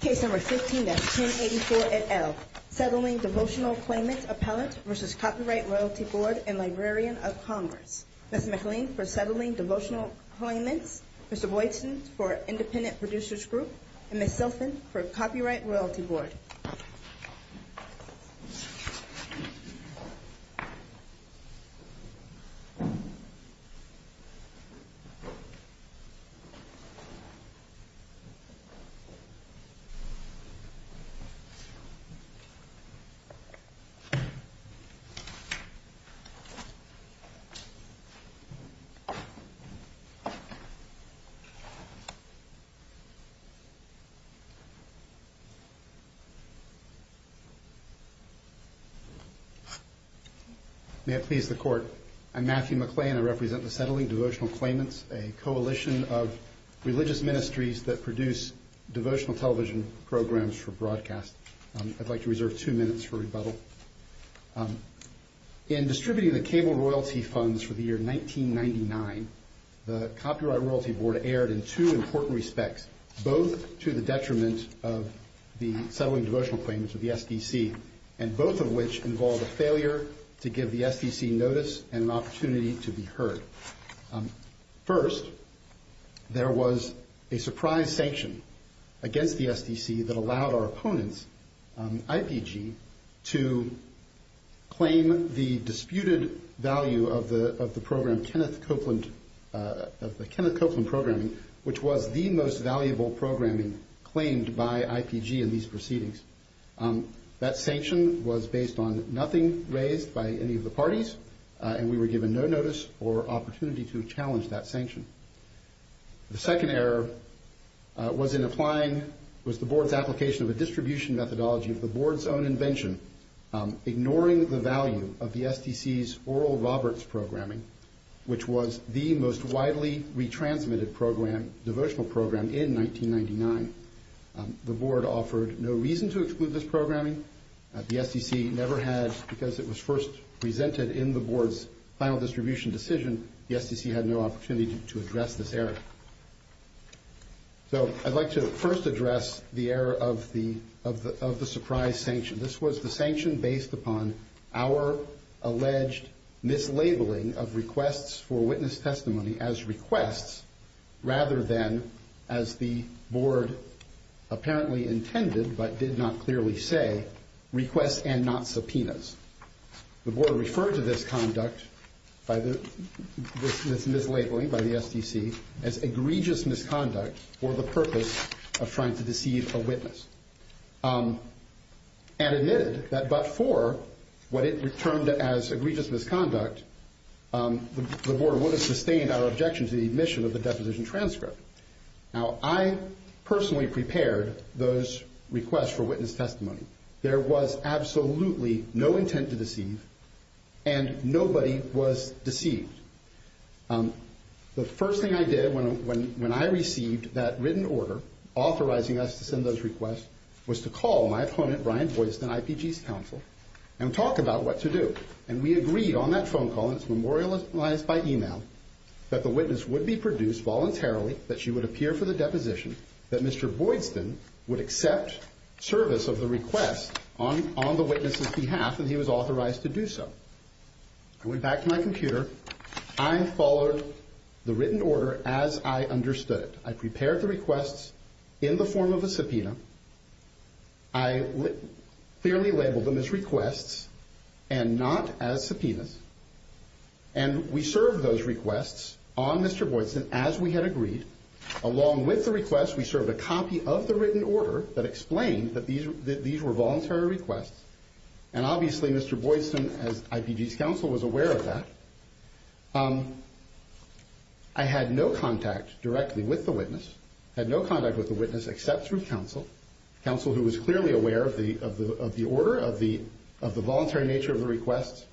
Case number 15-1084 et al., Settling Devotional Claimants Appellant v. Copyright Royalty Board and Librarian of Congress. Ms. McLean for Settling Devotional Claimants, Mr. Boydson for Independent Producers Group, and Ms. Silfen for Copyright Royalty Board. May it please the Court, I'm Matthew McLean. I represent the Settling Devotional Claimants, a coalition of religious ministries that produce devotional television programs for broadcast. I'd like to reserve two minutes for rebuttal. In distributing the cable royalty funds for the year 1999, the Copyright Royalty Board erred in two important respects, both to the detriment of the Settling Devotional Claimants, or the SDC, and both of which involved a failure to give the SDC notice and an opportunity to be heard. First, there was a surprise sanction against the SDC that allowed our opponents, IPG, to claim the disputed value of the program Kenneth Copeland Programming, which was the most valuable programming claimed by IPG in these years, and we were given no notice or opportunity to challenge that sanction. The second error was the Board's application of a distribution methodology of the Board's own invention, ignoring the value of the SDC's Oral Roberts Programming, which was the most widely retransmitted devotional program in 1999. The Board offered no reason to exclude this programming. The SDC never had, because it was first presented in the Board's final distribution decision, the SDC had no opportunity to address this error. So I'd like to first address the error of the surprise sanction. This was the sanction based upon our alleged mislabeling of requests for witness testimony as requests, rather than, as the Board apparently intended, but did not clearly say, requests and not subpoenas. The Board rejected the request and referred to this conduct, this mislabeling by the SDC, as egregious misconduct for the purpose of trying to deceive a witness, and admitted that but for what it termed as egregious misconduct, the Board would have sustained our objection to the admission of the deposition transcript. Now, I personally prepared those requests for witness testimony. There was absolutely no intent to deceive, and nobody was deceived. The first thing I did when I received that written order authorizing us to send those requests was to call my opponent, Brian Boydston, IPG's counsel, and talk about what to do. And we agreed on that phone call, and it's memorialized by email, that the witness would be produced voluntarily, that she would appear for the deposition, that Mr. Boydston would accept service of the request on the witness's behalf, and he was authorized to do so. I went back to my computer. I followed the written order as I understood it. I prepared the requests in the form of a subpoena. I clearly labeled them as requests and not as subpoenas. And we served those requests on Mr. Boydston as we had agreed. Along with the request, we served a copy of the written order that explained that these were voluntary requests, and obviously Mr. Boydston, as IPG's counsel, was aware of that. I had no contact directly with the witness, had no contact with the witness except through counsel, counsel who was clearly aware of the order, of the voluntary nature of the request.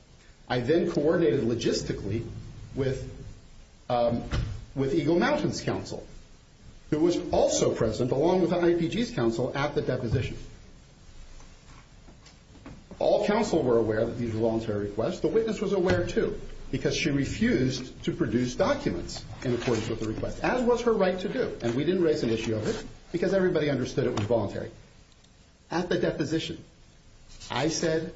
I then coordinated logistically with Eagle Mountains counsel, who was also present along with IPG's counsel at the deposition. All counsel were aware that these were voluntary requests. The witness was aware, too, because she refused to produce documents in accordance with the request, as was her right to do. And we didn't raise an issue of it because everybody understood it was voluntary. At the deposition, I said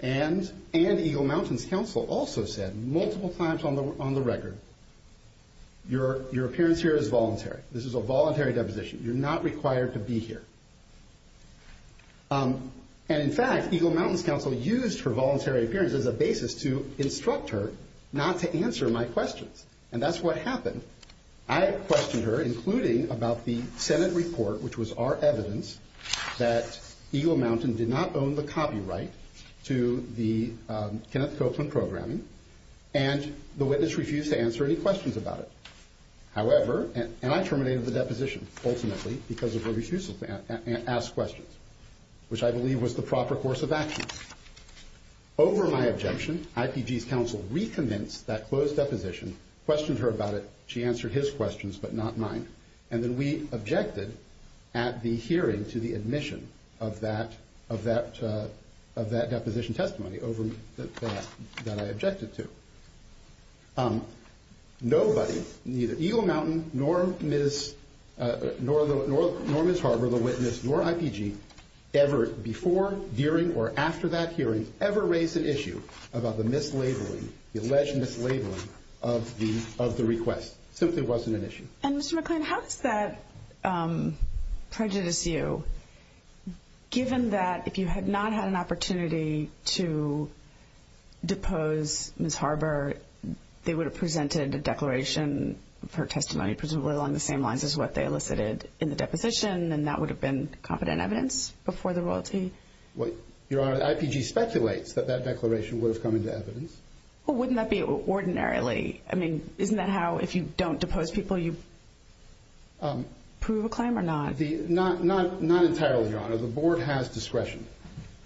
and Eagle Mountains counsel also said multiple times on the record, your appearance here is voluntary. This is a voluntary deposition. You're not required to be here. And in fact, Eagle Mountains counsel used her voluntary appearance as a basis to instruct her not to answer my questions. And that's what happened. I questioned her, including about the Senate report, which was our evidence, that Eagle Mountain did not own the copyright to the Kenneth Copeland programming, and the witness refused to answer any questions about it. However, and I terminated the deposition, ultimately, because of her refusal to ask questions, which I believe was the proper course of action. Over my objection, IPG's counsel recommenced that closed deposition, questioned her about it. She answered his questions, but not mine. And then we objected at the hearing to the admission of that deposition testimony over that I objected to. Nobody, neither Eagle Mountain, nor Ms. Harbour, the witness, nor IPG, ever before, during, or after that hearing, ever raised an issue about the mislabeling, the alleged mislabeling of the request. It simply wasn't an issue. And Mr. McLean, how does that prejudice you, given that if you had not had an opportunity to depose Ms. Harbour they would have presented a declaration of her testimony, presumably along the same lines as what they elicited in the deposition, and that would have been confident evidence before the royalty? Well, Your Honor, IPG speculates that that declaration would have come into evidence. Well, wouldn't that be ordinarily? I mean, isn't that how, if you don't depose people, you prove a claim or not? Not entirely, Your Honor. The Board has discretion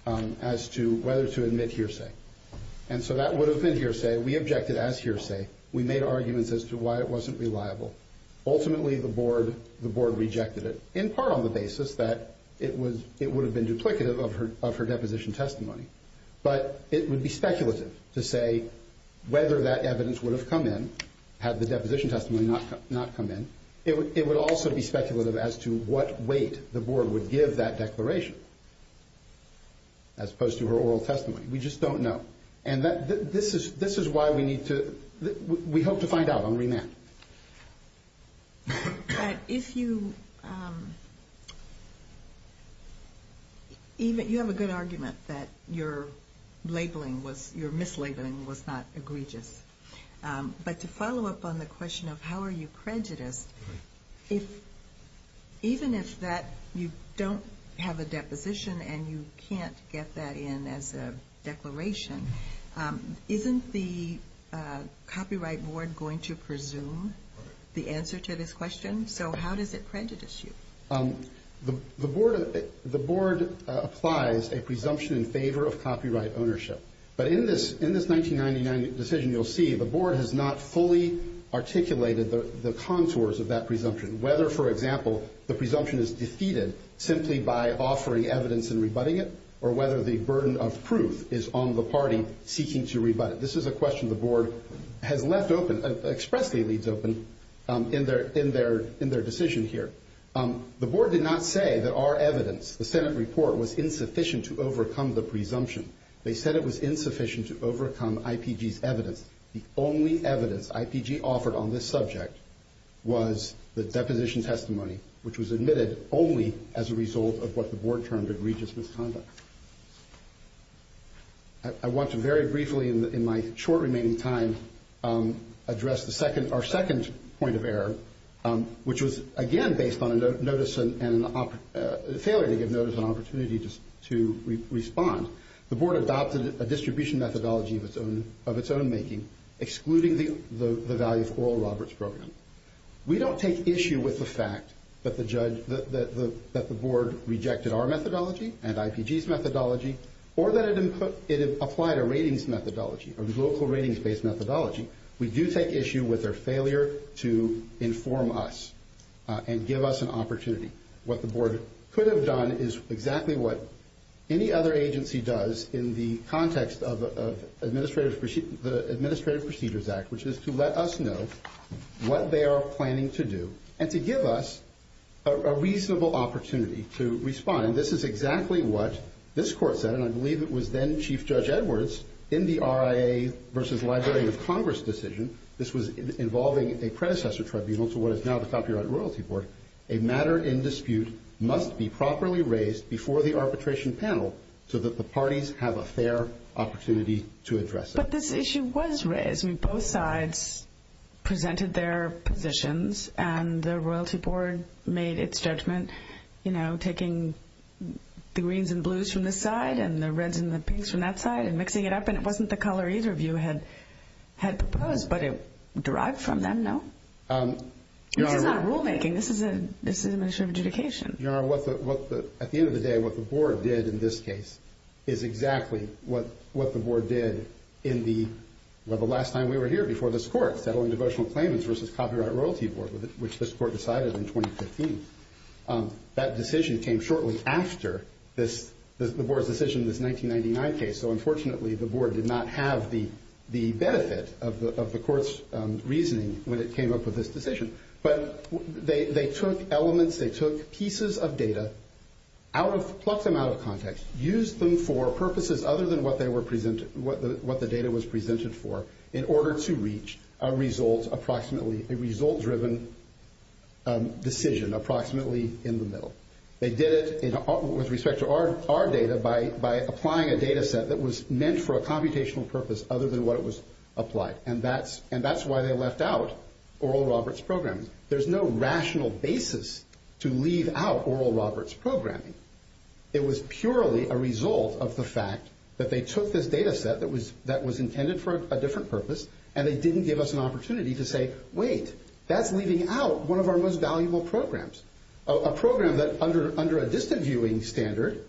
as to whether to admit hearsay. And so that would have been hearsay. We objected as hearsay. We made arguments as to why it wasn't reliable. Ultimately, the Board rejected it, in part on the basis that it would have been duplicative of her deposition testimony. But it would be speculative to say whether that evidence would have come in had the deposition testimony not come in. It would also be speculative as to what weight the Board would give that declaration, as opposed to her oral testimony. We just don't know. And this is why we need to, we hope to find out on remand. But if you, even, you have a good argument that your labeling was, your mislabeling was not egregious. But to follow up on the question of how are you prejudiced, if, even if that, you don't have a deposition and you can't get that in as a declaration, isn't the Copyright Board going to presume the answer to this question? So how does it prejudice you? The Board applies a presumption in favor of copyright ownership. But in this 1999 decision, you'll see the Board has not fully articulated the contours of that presumption. Whether, for example, the presumption is defeated simply by offering evidence and rebutting it, or whether the burden of proof is on the party seeking to rebut it. This is a question the Board has left open, expressly leaves open, in their decision here. The Board did not say that our evidence, the Senate report, was insufficient to overcome the presumption. They said it was insufficient to overcome IPG's evidence. The only evidence IPG offered on this subject was the deposition testimony, which was admitted only as a result of what the Board termed egregious misconduct. I want to very briefly, in my short remaining time, address our second point of error, which was again based on a failure to give notice and an opportunity to respond. The Board adopted a distribution methodology of its own making, excluding the value of Oral Roberts Program. We don't take issue with the fact that the Board rejected our methodology and IPG's methodology. Or that it applied a ratings methodology, a local ratings-based methodology. We do take issue with their failure to inform us and give us an opportunity. What the Board could have done is exactly what any other agency does in the context of the Administrative Procedures Act, which is to let us know what they are planning to do and to give us a reasonable opportunity to respond. This is exactly what this Court said, and I believe it was then Chief Judge Edwards, in the RIA versus Library of Congress decision. This was involving a predecessor tribunal to what is now the Copyright Royalty Board. A matter in dispute must be properly raised before the arbitration panel so that the parties have a fair opportunity to address it. But this issue was raised. Both sides presented their positions and the Royalty Board made its judgment, you know, taking the greens and blues from this side and the reds and the pinks from that side and mixing it up, and it wasn't the color either of you had proposed, but it derived from them, no? This is not rulemaking, this is administrative adjudication. Your Honor, at the end of the day, what the Board did in this case is exactly what the Board did the last time we were here before this Court, settling devotional claimants versus Copyright Royalty Board, which this Court decided in 2015. That decision came shortly after the Board's decision in this 1999 case, so unfortunately the Board did not have the benefit of the Court's reasoning when it came up with this decision. But they took elements, they took pieces of data, plucked them out of context, used them for purposes other than what the data was presented for in order to reach a result-driven decision approximately in the middle. They did it with respect to our data by applying a data set that was meant for a computational purpose other than what it was applied, and that's why they left out Oral Roberts' programming. There's no rational basis to leave out Oral Roberts' programming. It was purely a result of the fact that they took this data set that was intended for a different purpose and they didn't give us an opportunity to say, wait, that's leaving out one of our most valuable programs, a program that, under a distant viewing standard,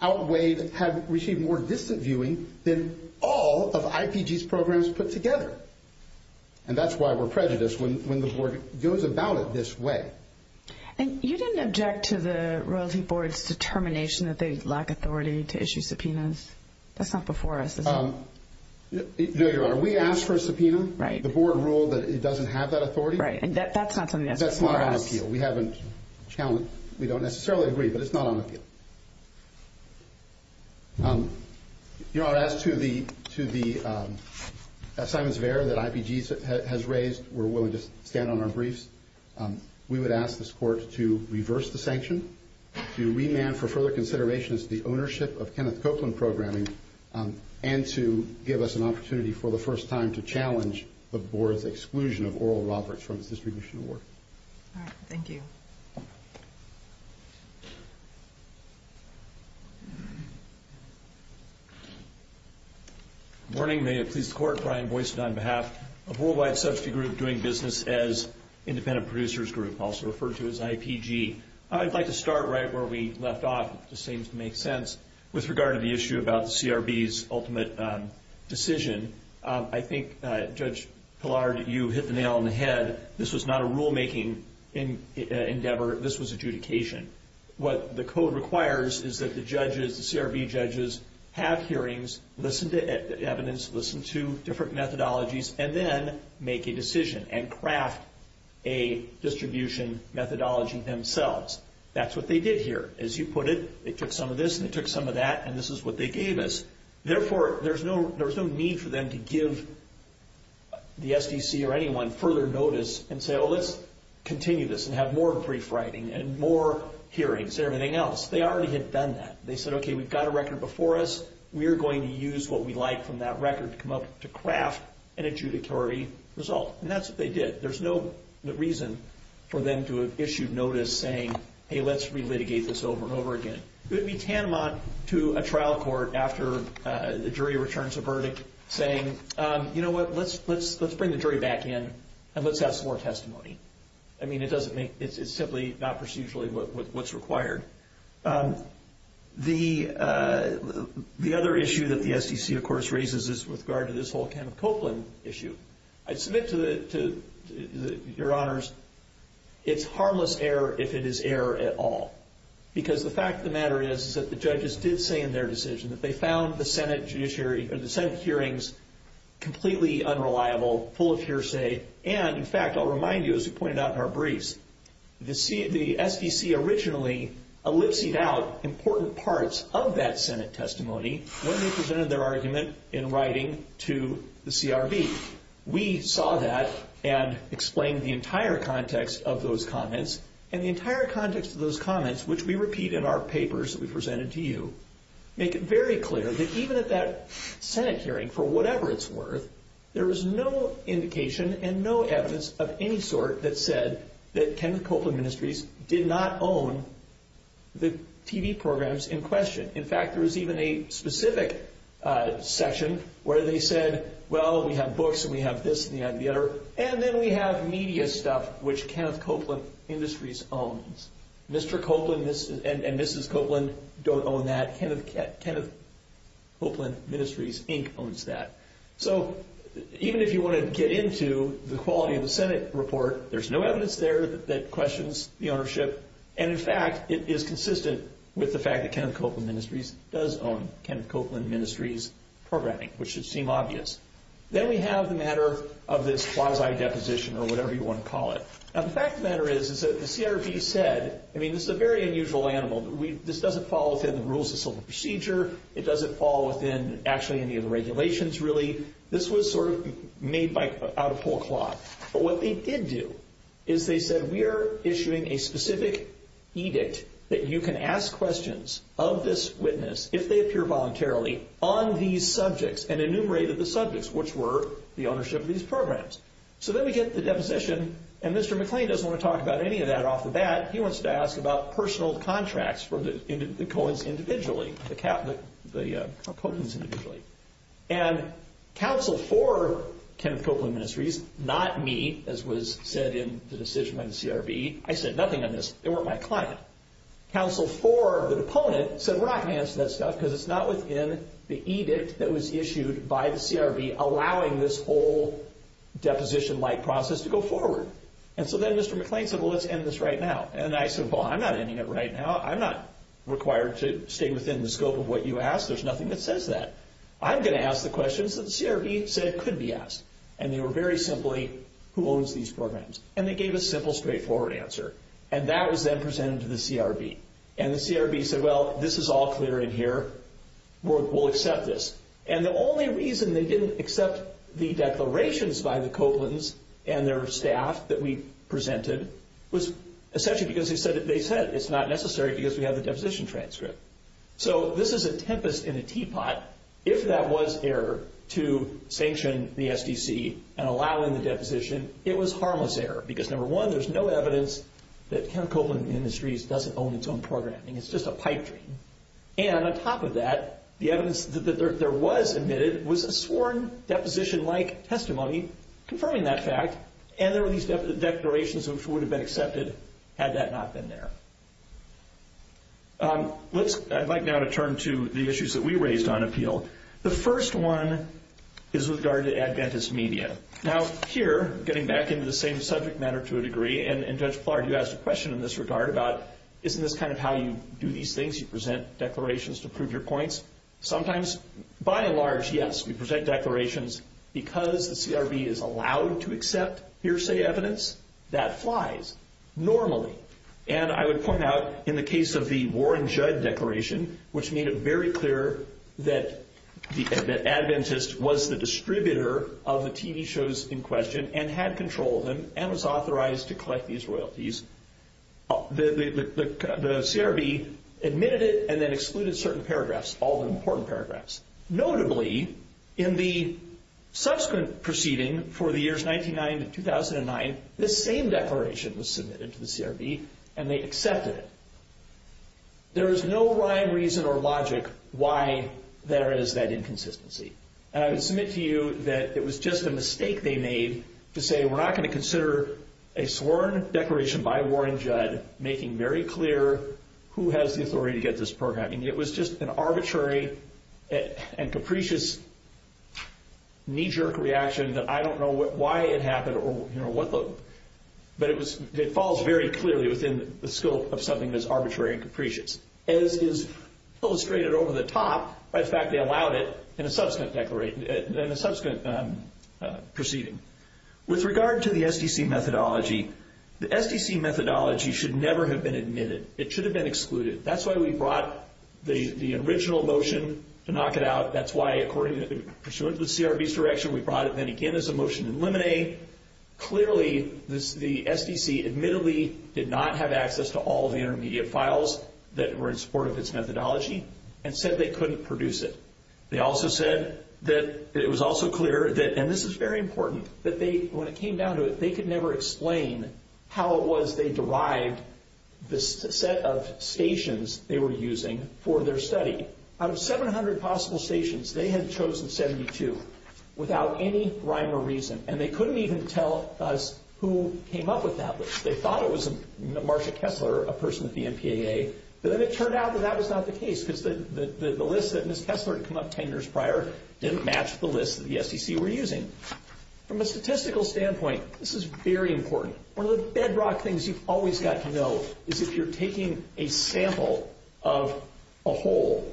outweighed, had received more distant viewing than all of IPG's programs put together. And that's why we're prejudiced when the Board goes about it this way. And you didn't object to the Royalty Board's determination that they lack authority to issue subpoenas? That's not before us, is it? No, Your Honor, we asked for a subpoena. Right. The Board ruled that it doesn't have that authority. Right, and that's not something that's before us. That's not on appeal. We haven't challenged, we don't necessarily agree, but it's not on appeal. Your Honor, as to the assignments of error that IPG has raised, we're willing to stand on our briefs. We would ask this Court to reverse the sanction, to remand for further consideration as to the ownership of Kenneth Copeland Programming, and to give us an opportunity for the first time to challenge the Board's exclusion of Oral Roberts from its distribution award. All right, thank you. Good morning, may it please the Court. Brian Boyce on behalf of Worldwide Substitute Group, doing business as Independent Producers Group, also referred to as IPG. I'd like to start right where we left off, if this seems to make sense, with regard to the issue about the CRB's ultimate decision. I think, Judge Pillard, you hit the nail on the head. This was not a rulemaking endeavor. This was adjudication. What the Code requires is that the judges, the CRB judges, have hearings, listen to evidence, listen to different methodologies, and then make a decision and craft a distribution methodology themselves. That's what they did here. As you put it, they took some of this, and they took some of that, and this is what they gave us. Therefore, there's no need for them to give the SDC or anyone further notice and say, well, let's continue this and have more brief writing and more hearings and everything else. They already had done that. They said, okay, we've got a record before us. We are going to use what we like from that record to come up to craft an adjudicatory result. And that's what they did. There's no reason for them to have issued notice saying, hey, let's relitigate this over and over again. It would be tantamount to a trial court, after the jury returns a verdict, saying, you know what, let's bring the jury back in and let's have some more testimony. I mean, it's simply not procedurally what's required. The other issue that the SDC, of course, raises is with regard to this whole Kenneth Copeland issue. I submit to your honors, it's harmless error if it is error at all, because the fact of the matter is that the judges did say in their decision that they found the Senate hearings completely unreliable, full of hearsay. And, in fact, I'll remind you, as we pointed out in our briefs, the SDC originally ellipsed out important parts of that Senate testimony when they presented their argument in writing to the CRB. We saw that and explained the entire context of those comments. And the entire context of those comments, which we repeat in our papers that we presented to you, make it very clear that even at that Senate hearing, for whatever it's worth, there was no indication and no evidence of any sort that said that Kenneth Copeland Ministries did not own the TV programs in question. In fact, there was even a specific section where they said, well, we have books and we have this and we have the other, and then we have media stuff which Kenneth Copeland Industries owns. Mr. Copeland and Mrs. Copeland don't own that. Kenneth Copeland Ministries Inc. owns that. So even if you want to get into the quality of the Senate report, there's no evidence there that questions the ownership. And, in fact, it is consistent with the fact that Kenneth Copeland Ministries does own Kenneth Copeland Ministries programming, which should seem obvious. Then we have the matter of this quasi-deposition or whatever you want to call it. Now, the fact of the matter is that the CRB said, I mean, this is a very unusual animal. This doesn't fall within the rules of civil procedure. It doesn't fall within actually any of the regulations really. This was sort of made out of pull cloth. But what they did do is they said, we are issuing a specific edict that you can ask questions of this witness if they appear voluntarily on these subjects and enumerated the subjects, which were the ownership of these programs. So then we get the deposition, and Mr. McClain doesn't want to talk about any of that off the bat. He wants to ask about personal contracts for the Coens individually, the Coens individually. And counsel for Kenneth Copeland Ministries, not me, as was said in the decision by the CRB, I said nothing on this. They weren't my client. Counsel for the deponent said, we're not going to answer that stuff because it's not within the edict that was issued by the CRB allowing this whole deposition-like process to go forward. And so then Mr. McClain said, well, let's end this right now. And I said, well, I'm not ending it right now. I'm not required to stay within the scope of what you asked. There's nothing that says that. I'm going to ask the questions that the CRB said could be asked. And they were very simply, who owns these programs? And they gave a simple, straightforward answer. And that was then presented to the CRB. And the CRB said, well, this is all clear in here. We'll accept this. And the only reason they didn't accept the declarations by the Copelands and their staff that we presented was essentially because they said it's not necessary because we have the deposition transcript. So this is a tempest in a teapot. If that was error to sanction the SDC and allow in the deposition, it was harmless error because, number one, there's no evidence that Ken Copeland Ministries doesn't own its own programming. It's just a pipe dream. And on top of that, the evidence that there was admitted was a sworn deposition-like testimony confirming that fact. And there were these declarations which would have been accepted had that not been there. I'd like now to turn to the issues that we raised on appeal. The first one is with regard to Adventist media. Now here, getting back into the same subject matter to a degree, and Judge Plard, you asked a question in this regard about, isn't this kind of how you do these things? You present declarations to prove your points. Sometimes, by and large, yes, we present declarations. Because the CRB is allowed to accept hearsay evidence, that flies normally. And I would point out in the case of the Warren Judd declaration, which made it very clear that Adventist was the distributor of the TV shows in question and had control of them and was authorized to collect these royalties. The CRB admitted it and then excluded certain paragraphs, all the important paragraphs. Notably, in the subsequent proceeding for the years 1999 to 2009, this same declaration was submitted to the CRB, and they accepted it. There is no rhyme, reason, or logic why there is that inconsistency. And I would submit to you that it was just a mistake they made to say, we're not going to consider a sworn declaration by Warren Judd making very clear who has the authority to get this program. I mean, it was just an arbitrary and capricious knee-jerk reaction that I don't know why it happened or what the... But it falls very clearly within the scope of something that's arbitrary and capricious, as is illustrated over the top by the fact they allowed it in a subsequent proceeding. With regard to the SDC methodology, the SDC methodology should never have been admitted. It should have been excluded. That's why we brought the original motion to knock it out. That's why, according to the CRB's direction, we brought it in again as a motion to eliminate. Clearly, the SDC admittedly did not have access to all the intermediate files that were in support of its methodology and said they couldn't produce it. They also said that it was also clear that, and this is very important, that when it came down to it, they could never explain how it was they derived the set of stations they were using for their study. Out of 700 possible stations, they had chosen 72 without any rhyme or reason, and they couldn't even tell us who came up with that list. They thought it was Marsha Kessler, a person at the NPAA, but then it turned out that that was not the case because the list that Ms. Kessler had come up 10 years prior didn't match the list that the SDC were using. From a statistical standpoint, this is very important. One of the bedrock things you've always got to know is if you're taking a sample of a whole,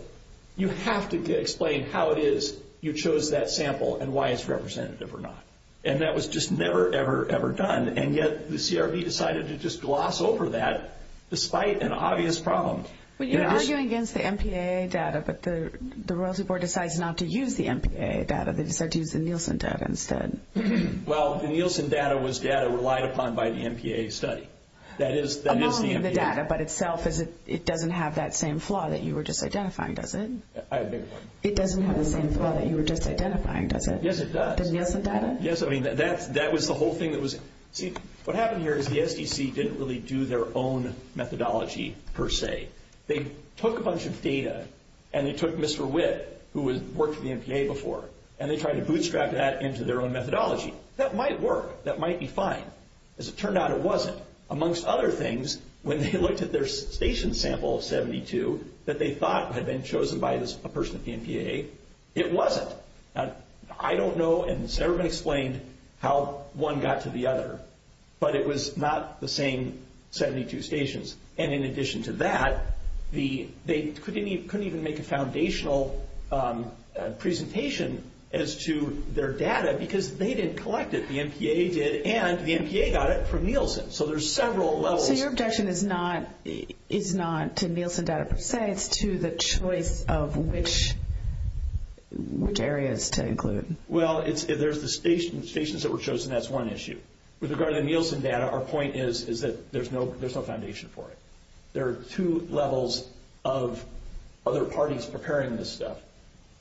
you have to explain how it is you chose that sample and why it's representative or not. And that was just never, ever, ever done, and yet the CRB decided to just gloss over that despite an obvious problem. Well, you're arguing against the NPAA data, but the Royalty Board decides not to use the NPAA data. They decide to use the Nielsen data instead. Well, the Nielsen data was data relied upon by the NPAA study. That is the NPAA. Among the data by itself, it doesn't have that same flaw that you were just identifying, does it? I beg your pardon? It doesn't have the same flaw that you were just identifying, does it? Yes, it does. The Nielsen data? Yes, I mean, that was the whole thing that was— See, what happened here is the SDC didn't really do their own methodology per se. They took a bunch of data, and they took Mr. Witt, who worked for the NPAA before, and they tried to bootstrap that into their own methodology. That might work. That might be fine. As it turned out, it wasn't. Amongst other things, when they looked at their station sample of 72 that they thought had been chosen by a person at the NPAA, it wasn't. I don't know, and Sarah explained how one got to the other, but it was not the same 72 stations. And in addition to that, they couldn't even make a foundational presentation as to their data because they didn't collect it. The NPAA did, and the NPAA got it from Nielsen. So there's several levels. So your objection is not to Nielsen data per se. It's to the choice of which areas to include. Well, there's the stations that were chosen. That's one issue. With regard to the Nielsen data, our point is that there's no foundation for it. There are two levels of other parties preparing this stuff,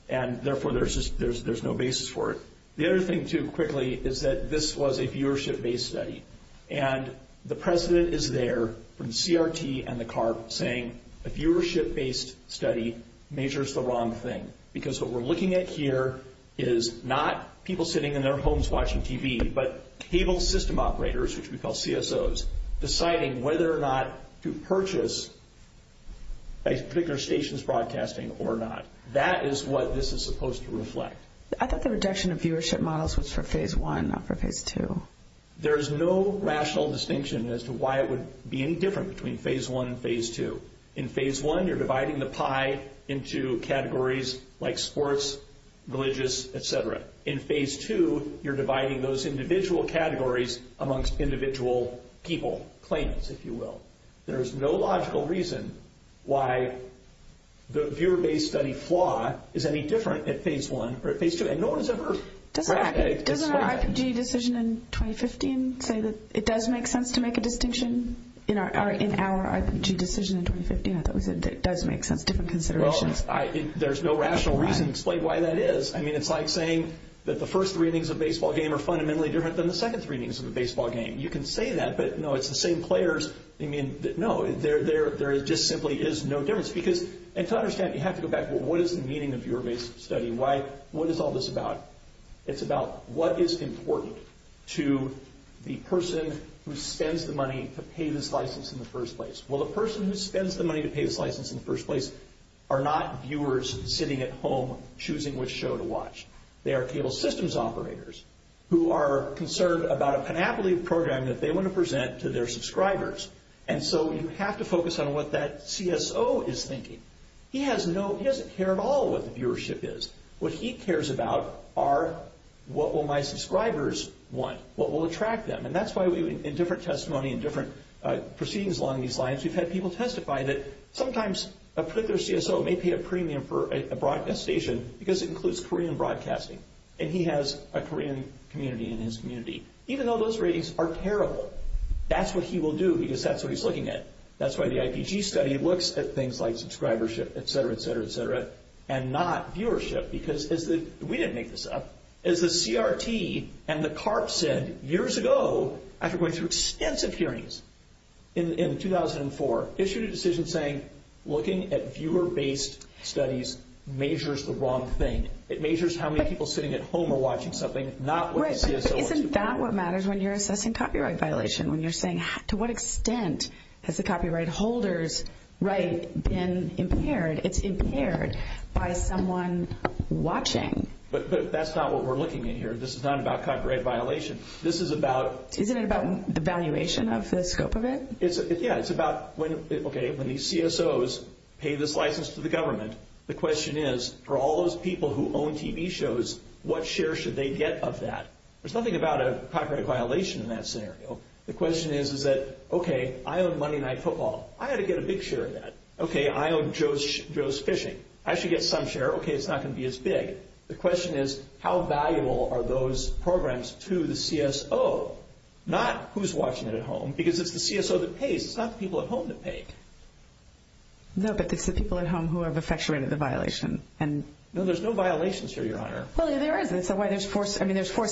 and therefore, there's no basis for it. The other thing, too, quickly, is that this was a viewership-based study, and the President is there from CRT and the CARB saying a viewership-based study measures the wrong thing because what we're looking at here is not people sitting in their homes watching TV, but cable system operators, which we call CSOs, deciding whether or not to purchase a particular station's broadcasting or not. That is what this is supposed to reflect. I thought the reduction of viewership models was for Phase 1, not for Phase 2. There is no rational distinction as to why it would be any different between Phase 1 and Phase 2. In Phase 1, you're dividing the pie into categories like sports, religious, et cetera. In Phase 2, you're dividing those individual categories amongst individual people, claims, if you will. There is no logical reason why the viewer-based study flaw is any different at Phase 1 or at Phase 2, and no one has ever practiced that. Doesn't our IPG decision in 2015 say that it does make sense to make a distinction? In our IPG decision in 2015, I thought we said it does make sense, different considerations. There's no rational reason to explain why that is. It's like saying that the first three innings of a baseball game are fundamentally different than the second three innings of a baseball game. You can say that, but no, it's the same players. No, there just simply is no difference. To understand, you have to go back. What is the meaning of viewer-based study? What is all this about? It's about what is important to the person who spends the money to pay this license in the first place. Well, the person who spends the money to pay this license in the first place are not viewers sitting at home choosing which show to watch. They are cable systems operators who are concerned about a Panoply program that they want to present to their subscribers, and so you have to focus on what that CSO is thinking. He doesn't care at all what the viewership is. What he cares about are what will my subscribers want, what will attract them, and that's why in different testimony and different proceedings along these lines, we've had people testify that sometimes a particular CSO may pay a premium for a broadcast station because it includes Korean broadcasting, and he has a Korean community in his community. Even though those ratings are terrible, that's what he will do because that's what he's looking at. That's why the IPG study looks at things like subscribership, et cetera, et cetera, et cetera, and not viewership because we didn't make this up. As the CRT and the CARP said years ago after going through extensive hearings in 2004, issued a decision saying looking at viewer-based studies measures the wrong thing. It measures how many people sitting at home are watching something, not what the CSO wants to do. But isn't that what matters when you're assessing copyright violation, when you're saying to what extent has the copyright holder's right been impaired? It's impaired by someone watching. But that's not what we're looking at here. This is not about copyright violation. This is about... Isn't it about the valuation of the scope of it? Yeah, it's about, okay, when these CSOs pay this license to the government, the question is for all those people who own TV shows, what share should they get of that? There's nothing about a copyright violation in that scenario. The question is, is that, okay, I own Monday Night Football. I ought to get a big share of that. Okay, I own Joe's Fishing. I should get some share. Okay, it's not going to be as big. The question is how valuable are those programs to the CSO, not who's watching it at home, because it's the CSO that pays. It's not the people at home that pay. No, but it's the people at home who have effectuated the violation. No, there's no violations here, Your Honor. Well, there is. That's why there's forced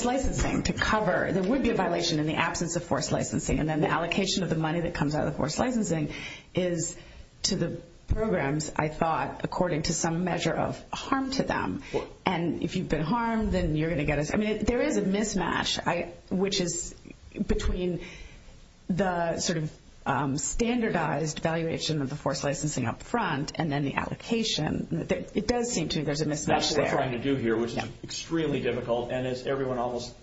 licensing to cover. There would be a violation in the absence of forced licensing. And then the allocation of the money that comes out of the forced licensing is to the programs, I thought, according to some measure of harm to them. And if you've been harmed, then you're going to get a… I mean, there is a mismatch, which is between the sort of standardized valuation of the forced licensing up front and then the allocation. It does seem to me there's a mismatch there. That's what we're trying to do here, which is extremely difficult. And as everyone almost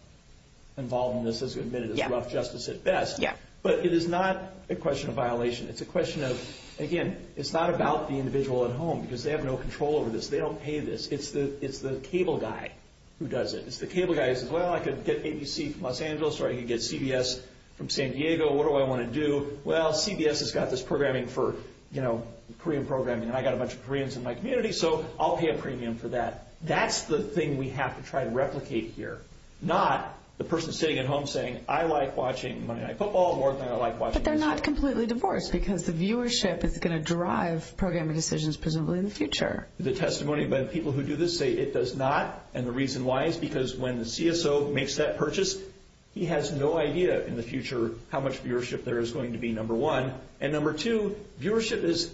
involved in this has admitted, it's rough justice at best. Yeah. But it is not a question of violation. It's a question of, again, it's not about the individual at home because they have no control over this. They don't pay this. It's the cable guy who does it. It's the cable guy who says, well, I could get ABC from Los Angeles or I could get CBS from San Diego. What do I want to do? Well, CBS has got this programming for, you know, Korean programming, and I've got a bunch of Koreans in my community, so I'll pay a premium for that. That's the thing we have to try to replicate here, not the person sitting at home saying, I like watching Monday Night Football more than I like watching… But they're not completely divorced because the viewership is going to drive programming decisions presumably in the future. The testimony by the people who do this say it does not. And the reason why is because when the CSO makes that purchase, he has no idea in the future how much viewership there is going to be, number one. And number two, viewership is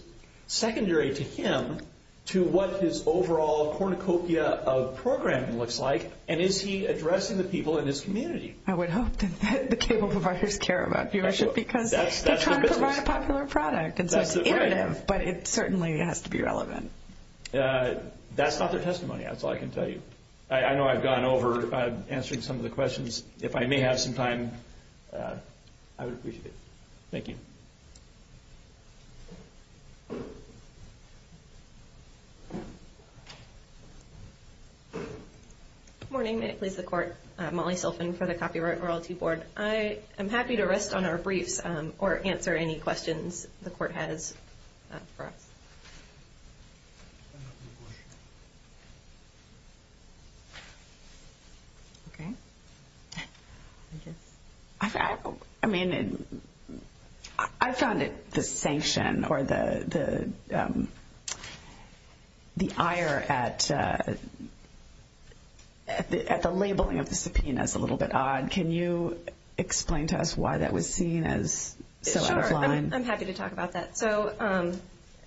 secondary to him to what his overall cornucopia of programming looks like, and is he addressing the people in his community? I would hope that the cable providers care about viewership because they're trying to provide a popular product. And so it's iterative, but it certainly has to be relevant. That's not their testimony. That's all I can tell you. I know I've gone over answering some of the questions. If I may have some time, I would appreciate it. Thank you. Good morning. May it please the Court. Molly Silfen for the Copyright Royalty Board. I am happy to rest on our briefs or answer any questions the Court has for us. Okay. Thank you. I mean, I found the sanction or the ire at the labeling of the subpoenas a little bit odd. Can you explain to us why that was seen as so out of line? Sure. I'm happy to talk about that. So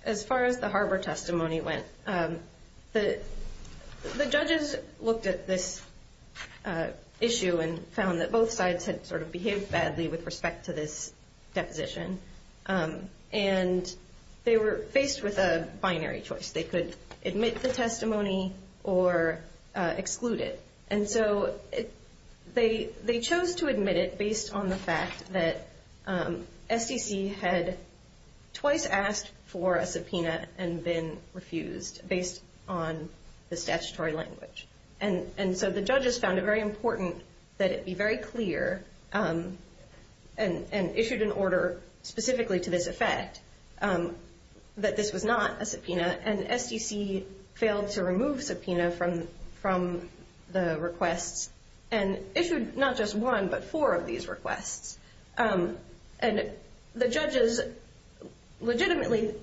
as far as the Harbor testimony went, the judges looked at this issue and found that both sides had sort of behaved badly with respect to this deposition, and they were faced with a binary choice. They could admit the testimony or exclude it. And so they chose to admit it based on the fact that SDC had twice asked for a subpoena and been refused based on the statutory language. And so the judges found it very important that it be very clear and issued an order specifically to this effect that this was not a subpoena, and SDC failed to remove subpoena from the requests and issued not just one but four of these requests. And the judges legitimately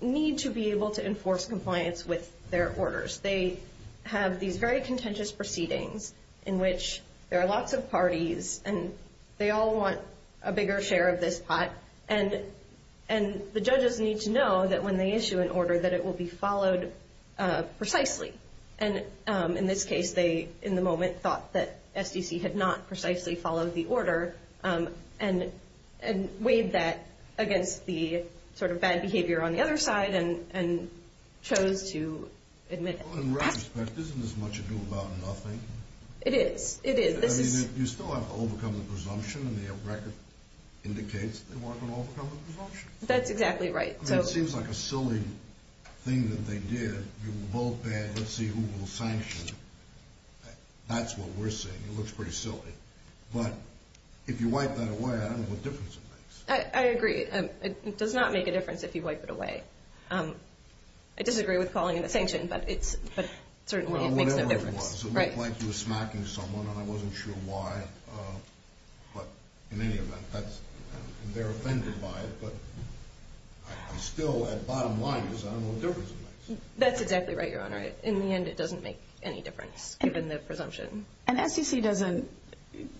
need to be able to enforce compliance with their orders. They have these very contentious proceedings in which there are lots of parties and they all want a bigger share of this pot, and the judges need to know that when they issue an order that it will be followed precisely. And in this case, they in the moment thought that SDC had not precisely followed the order and weighed that against the sort of bad behavior on the other side and chose to admit it. Well, in retrospect, isn't this much ado about nothing? It is. It is. You still have to overcome the presumption, and the record indicates they want to overcome the presumption. That's exactly right. It seems like a silly thing that they did. You vote bad, let's see who will sanction. That's what we're seeing. It looks pretty silly. But if you wipe that away, I don't know what difference it makes. I agree. It does not make a difference if you wipe it away. I disagree with calling it a sanction, but certainly it makes no difference. It looked like you were smacking someone, and I wasn't sure why. But in any event, they're offended by it, but I'm still at bottom line because I don't know what difference it makes. That's exactly right, Your Honor. In the end, it doesn't make any difference, given the presumption. And SDC doesn't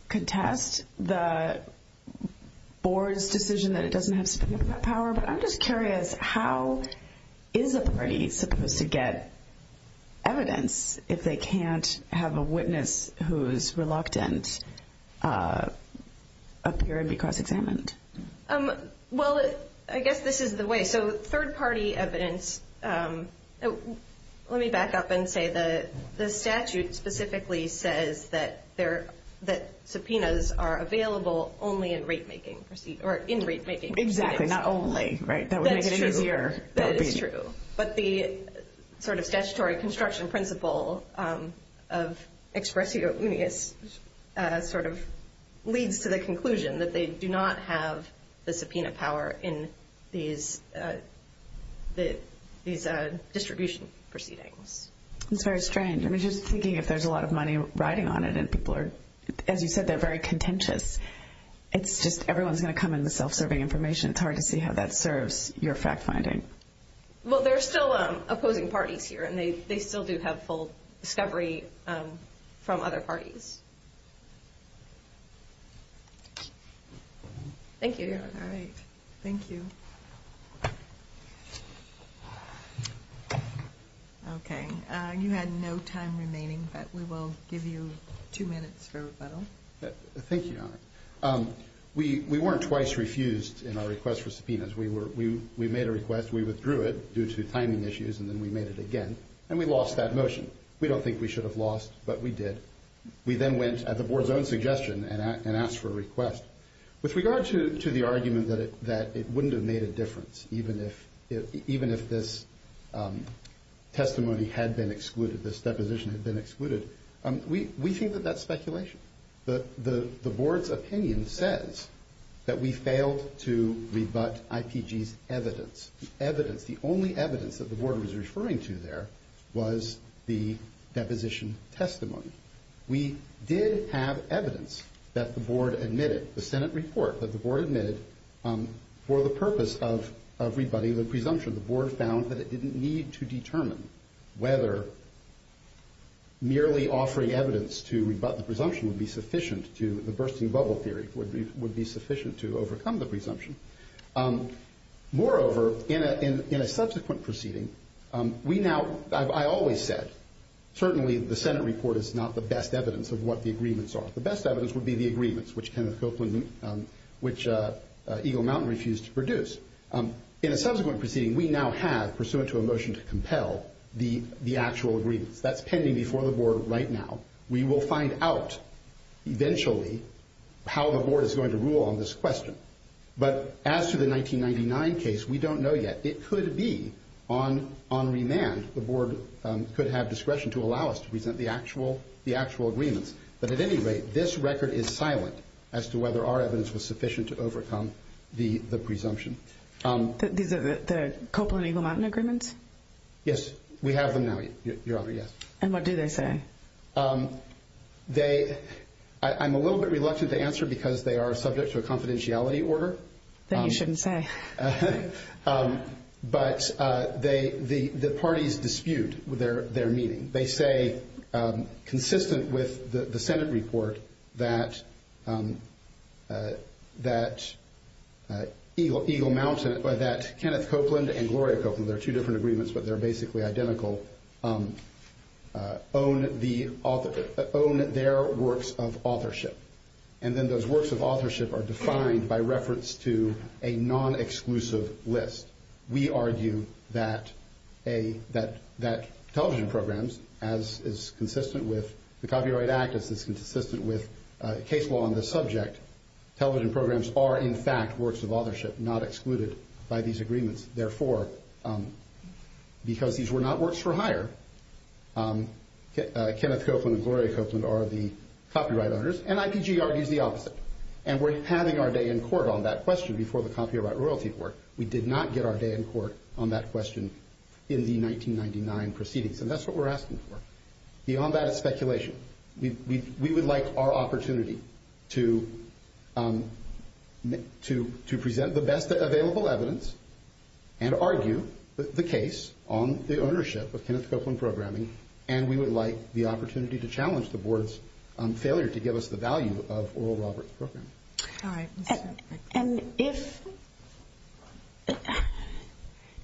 contest the board's decision that it doesn't have significant power, but I'm just curious, how is a party supposed to get evidence if they can't have a witness who's reluctant appear and be cross-examined? Well, I guess this is the way. So third-party evidence, let me back up and say the statute specifically says that subpoenas are available only in rate-making proceedings. Exactly, not only. That would make it easier. That is true. But the statutory construction principle of expressio unius leads to the conclusion that they do not have the subpoena power in these distribution proceedings. That's very strange. I mean, just thinking if there's a lot of money riding on it and people are, as you said, they're very contentious. It's just everyone's going to come in with self-serving information. It's hard to see how that serves your fact-finding. Well, there are still opposing parties here, and they still do have full discovery from other parties. Thank you, Your Honor. All right. Thank you. Okay. Thank you, Your Honor. We weren't twice refused in our request for subpoenas. We made a request. We withdrew it due to timing issues, and then we made it again, and we lost that motion. We don't think we should have lost, but we did. We then went at the board's own suggestion and asked for a request. With regard to the argument that it wouldn't have made a difference even if this testimony had been excluded, this deposition had been excluded, we think that that's speculation. The board's opinion says that we failed to rebut IPG's evidence. The evidence, the only evidence that the board was referring to there was the deposition testimony. We did have evidence that the board admitted, the Senate report that the board admitted, for the purpose of rebutting the presumption. The board found that it didn't need to determine whether merely offering evidence to rebut the presumption would be sufficient to the bursting bubble theory, would be sufficient to overcome the presumption. Moreover, in a subsequent proceeding, we now, I always said, certainly the Senate report is not the best evidence of what the agreements are. The best evidence would be the agreements, which Kenneth Copeland, which Eagle Mountain refused to produce. In a subsequent proceeding, we now have, pursuant to a motion to compel, the actual agreements. That's pending before the board right now. We will find out eventually how the board is going to rule on this question. But as to the 1999 case, we don't know yet. It could be on remand the board could have discretion to allow us to present the actual agreements. But at any rate, this record is silent as to whether our evidence was sufficient to overcome the presumption. These are the Copeland-Eagle Mountain agreements? Yes, we have them now, Your Honor, yes. And what do they say? I'm a little bit reluctant to answer because they are subject to a confidentiality order. Then you shouldn't say. But the parties dispute their meaning. They say, consistent with the Senate report, that Eagle Mountain, that Kenneth Copeland and Gloria Copeland, they're two different agreements but they're basically identical, own their works of authorship. And then those works of authorship are defined by reference to a non-exclusive list. We argue that television programs, as is consistent with the Copyright Act, as is consistent with case law on this subject, television programs are in fact works of authorship, not excluded by these agreements. Therefore, because these were not works for hire, Kenneth Copeland and Gloria Copeland are the copyright owners, and IPG argues the opposite. And we're having our day in court on that question before the Copyright Royalty Court. We did not get our day in court on that question in the 1999 proceedings, and that's what we're asking for. Beyond that is speculation. We would like our opportunity to present the best available evidence and argue the case on the ownership of Kenneth Copeland programming, and we would like the opportunity to challenge the Board's failure to give us the value of Oral Roberts programming. And if,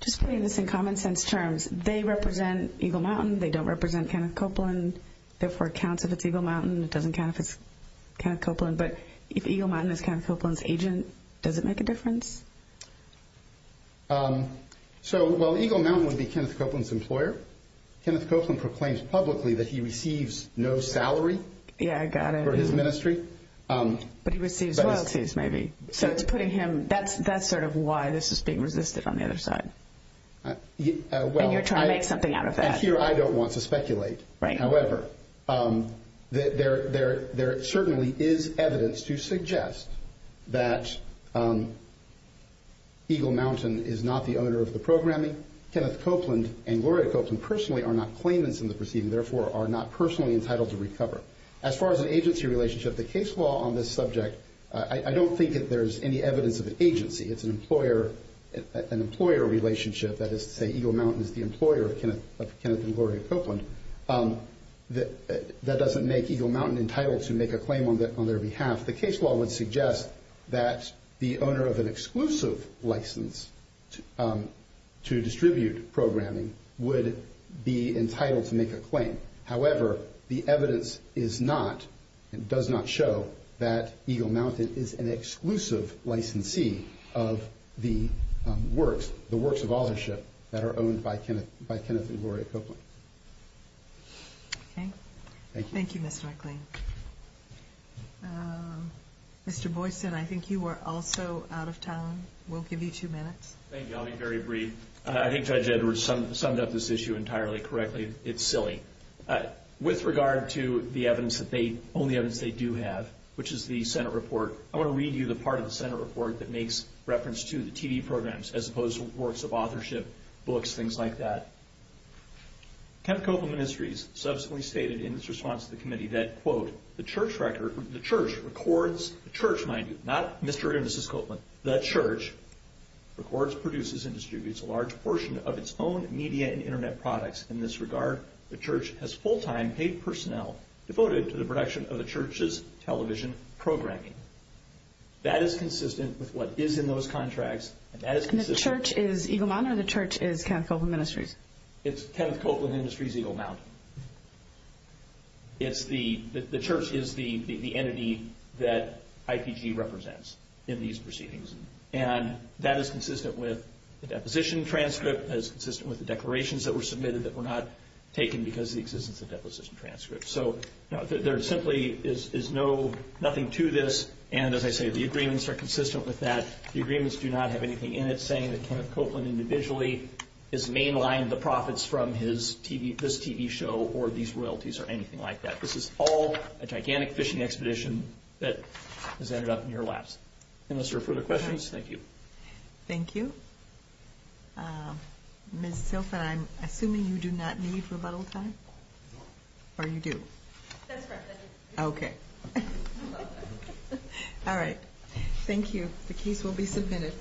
just putting this in common sense terms, they represent Eagle Mountain, they don't represent Kenneth Copeland, therefore it counts if it's Eagle Mountain, it doesn't count if it's Kenneth Copeland, but if Eagle Mountain is Kenneth Copeland's agent, does it make a difference? So, well, Eagle Mountain would be Kenneth Copeland's employer. Kenneth Copeland proclaims publicly that he receives no salary for his ministry. But he receives royalties, maybe. So it's putting him, that's sort of why this is being resisted on the other side. And you're trying to make something out of that. And here I don't want to speculate. However, there certainly is evidence to suggest that Eagle Mountain is not the owner of the programming. Kenneth Copeland and Gloria Copeland personally are not claimants in the proceeding, therefore are not personally entitled to recover. As far as an agency relationship, the case law on this subject, I don't think that there's any evidence of an agency. It's an employer relationship, that is to say Eagle Mountain is the employer of Kenneth and Gloria Copeland. That doesn't make Eagle Mountain entitled to make a claim on their behalf. The case law would suggest that the owner of an exclusive license to distribute programming would be entitled to make a claim. However, the evidence is not and does not show that Eagle Mountain is an exclusive licensee of the works, the works of authorship that are owned by Kenneth and Gloria Copeland. Thank you. Thank you, Mr. McLean. Mr. Boyston, I think you are also out of town. We'll give you two minutes. Thank you. I'll be very brief. I think Judge Edwards summed up this issue entirely correctly. It's silly. With regard to the evidence that they own, the evidence they do have, which is the Senate report, I want to read you the part of the Senate report that makes reference to the TV programs, as opposed to works of authorship, books, things like that. Kenneth Copeland Ministries subsequently stated in its response to the committee that, quote, the church records, the church, mind you, not Mr. or Mrs. Copeland, the church records, produces, and distributes a large portion of its own media and Internet products. In this regard, the church has full-time paid personnel devoted to the production of the church's television programming. That is consistent with what is in those contracts. And that is consistent. And the church is Eagle Mountain or the church is Kenneth Copeland Ministries? It's Kenneth Copeland Ministries, Eagle Mountain. The church is the entity that IPG represents in these proceedings. And that is consistent with the deposition transcript. That is consistent with the declarations that were submitted that were not taken because of the existence of deposition transcripts. So there simply is nothing to this. And as I say, the agreements are consistent with that. The agreements do not have anything in it saying that Kenneth Copeland individually has mainlined the profits from his TV, this TV show, or these royalties or anything like that. This is all a gigantic fishing expedition that has ended up in your laps. Unless there are further questions, thank you. Thank you. Ms. Tilghman, I'm assuming you do not need rebuttal time? No. Or you do? That's correct. Okay. All right. Thank you. The case will be submitted.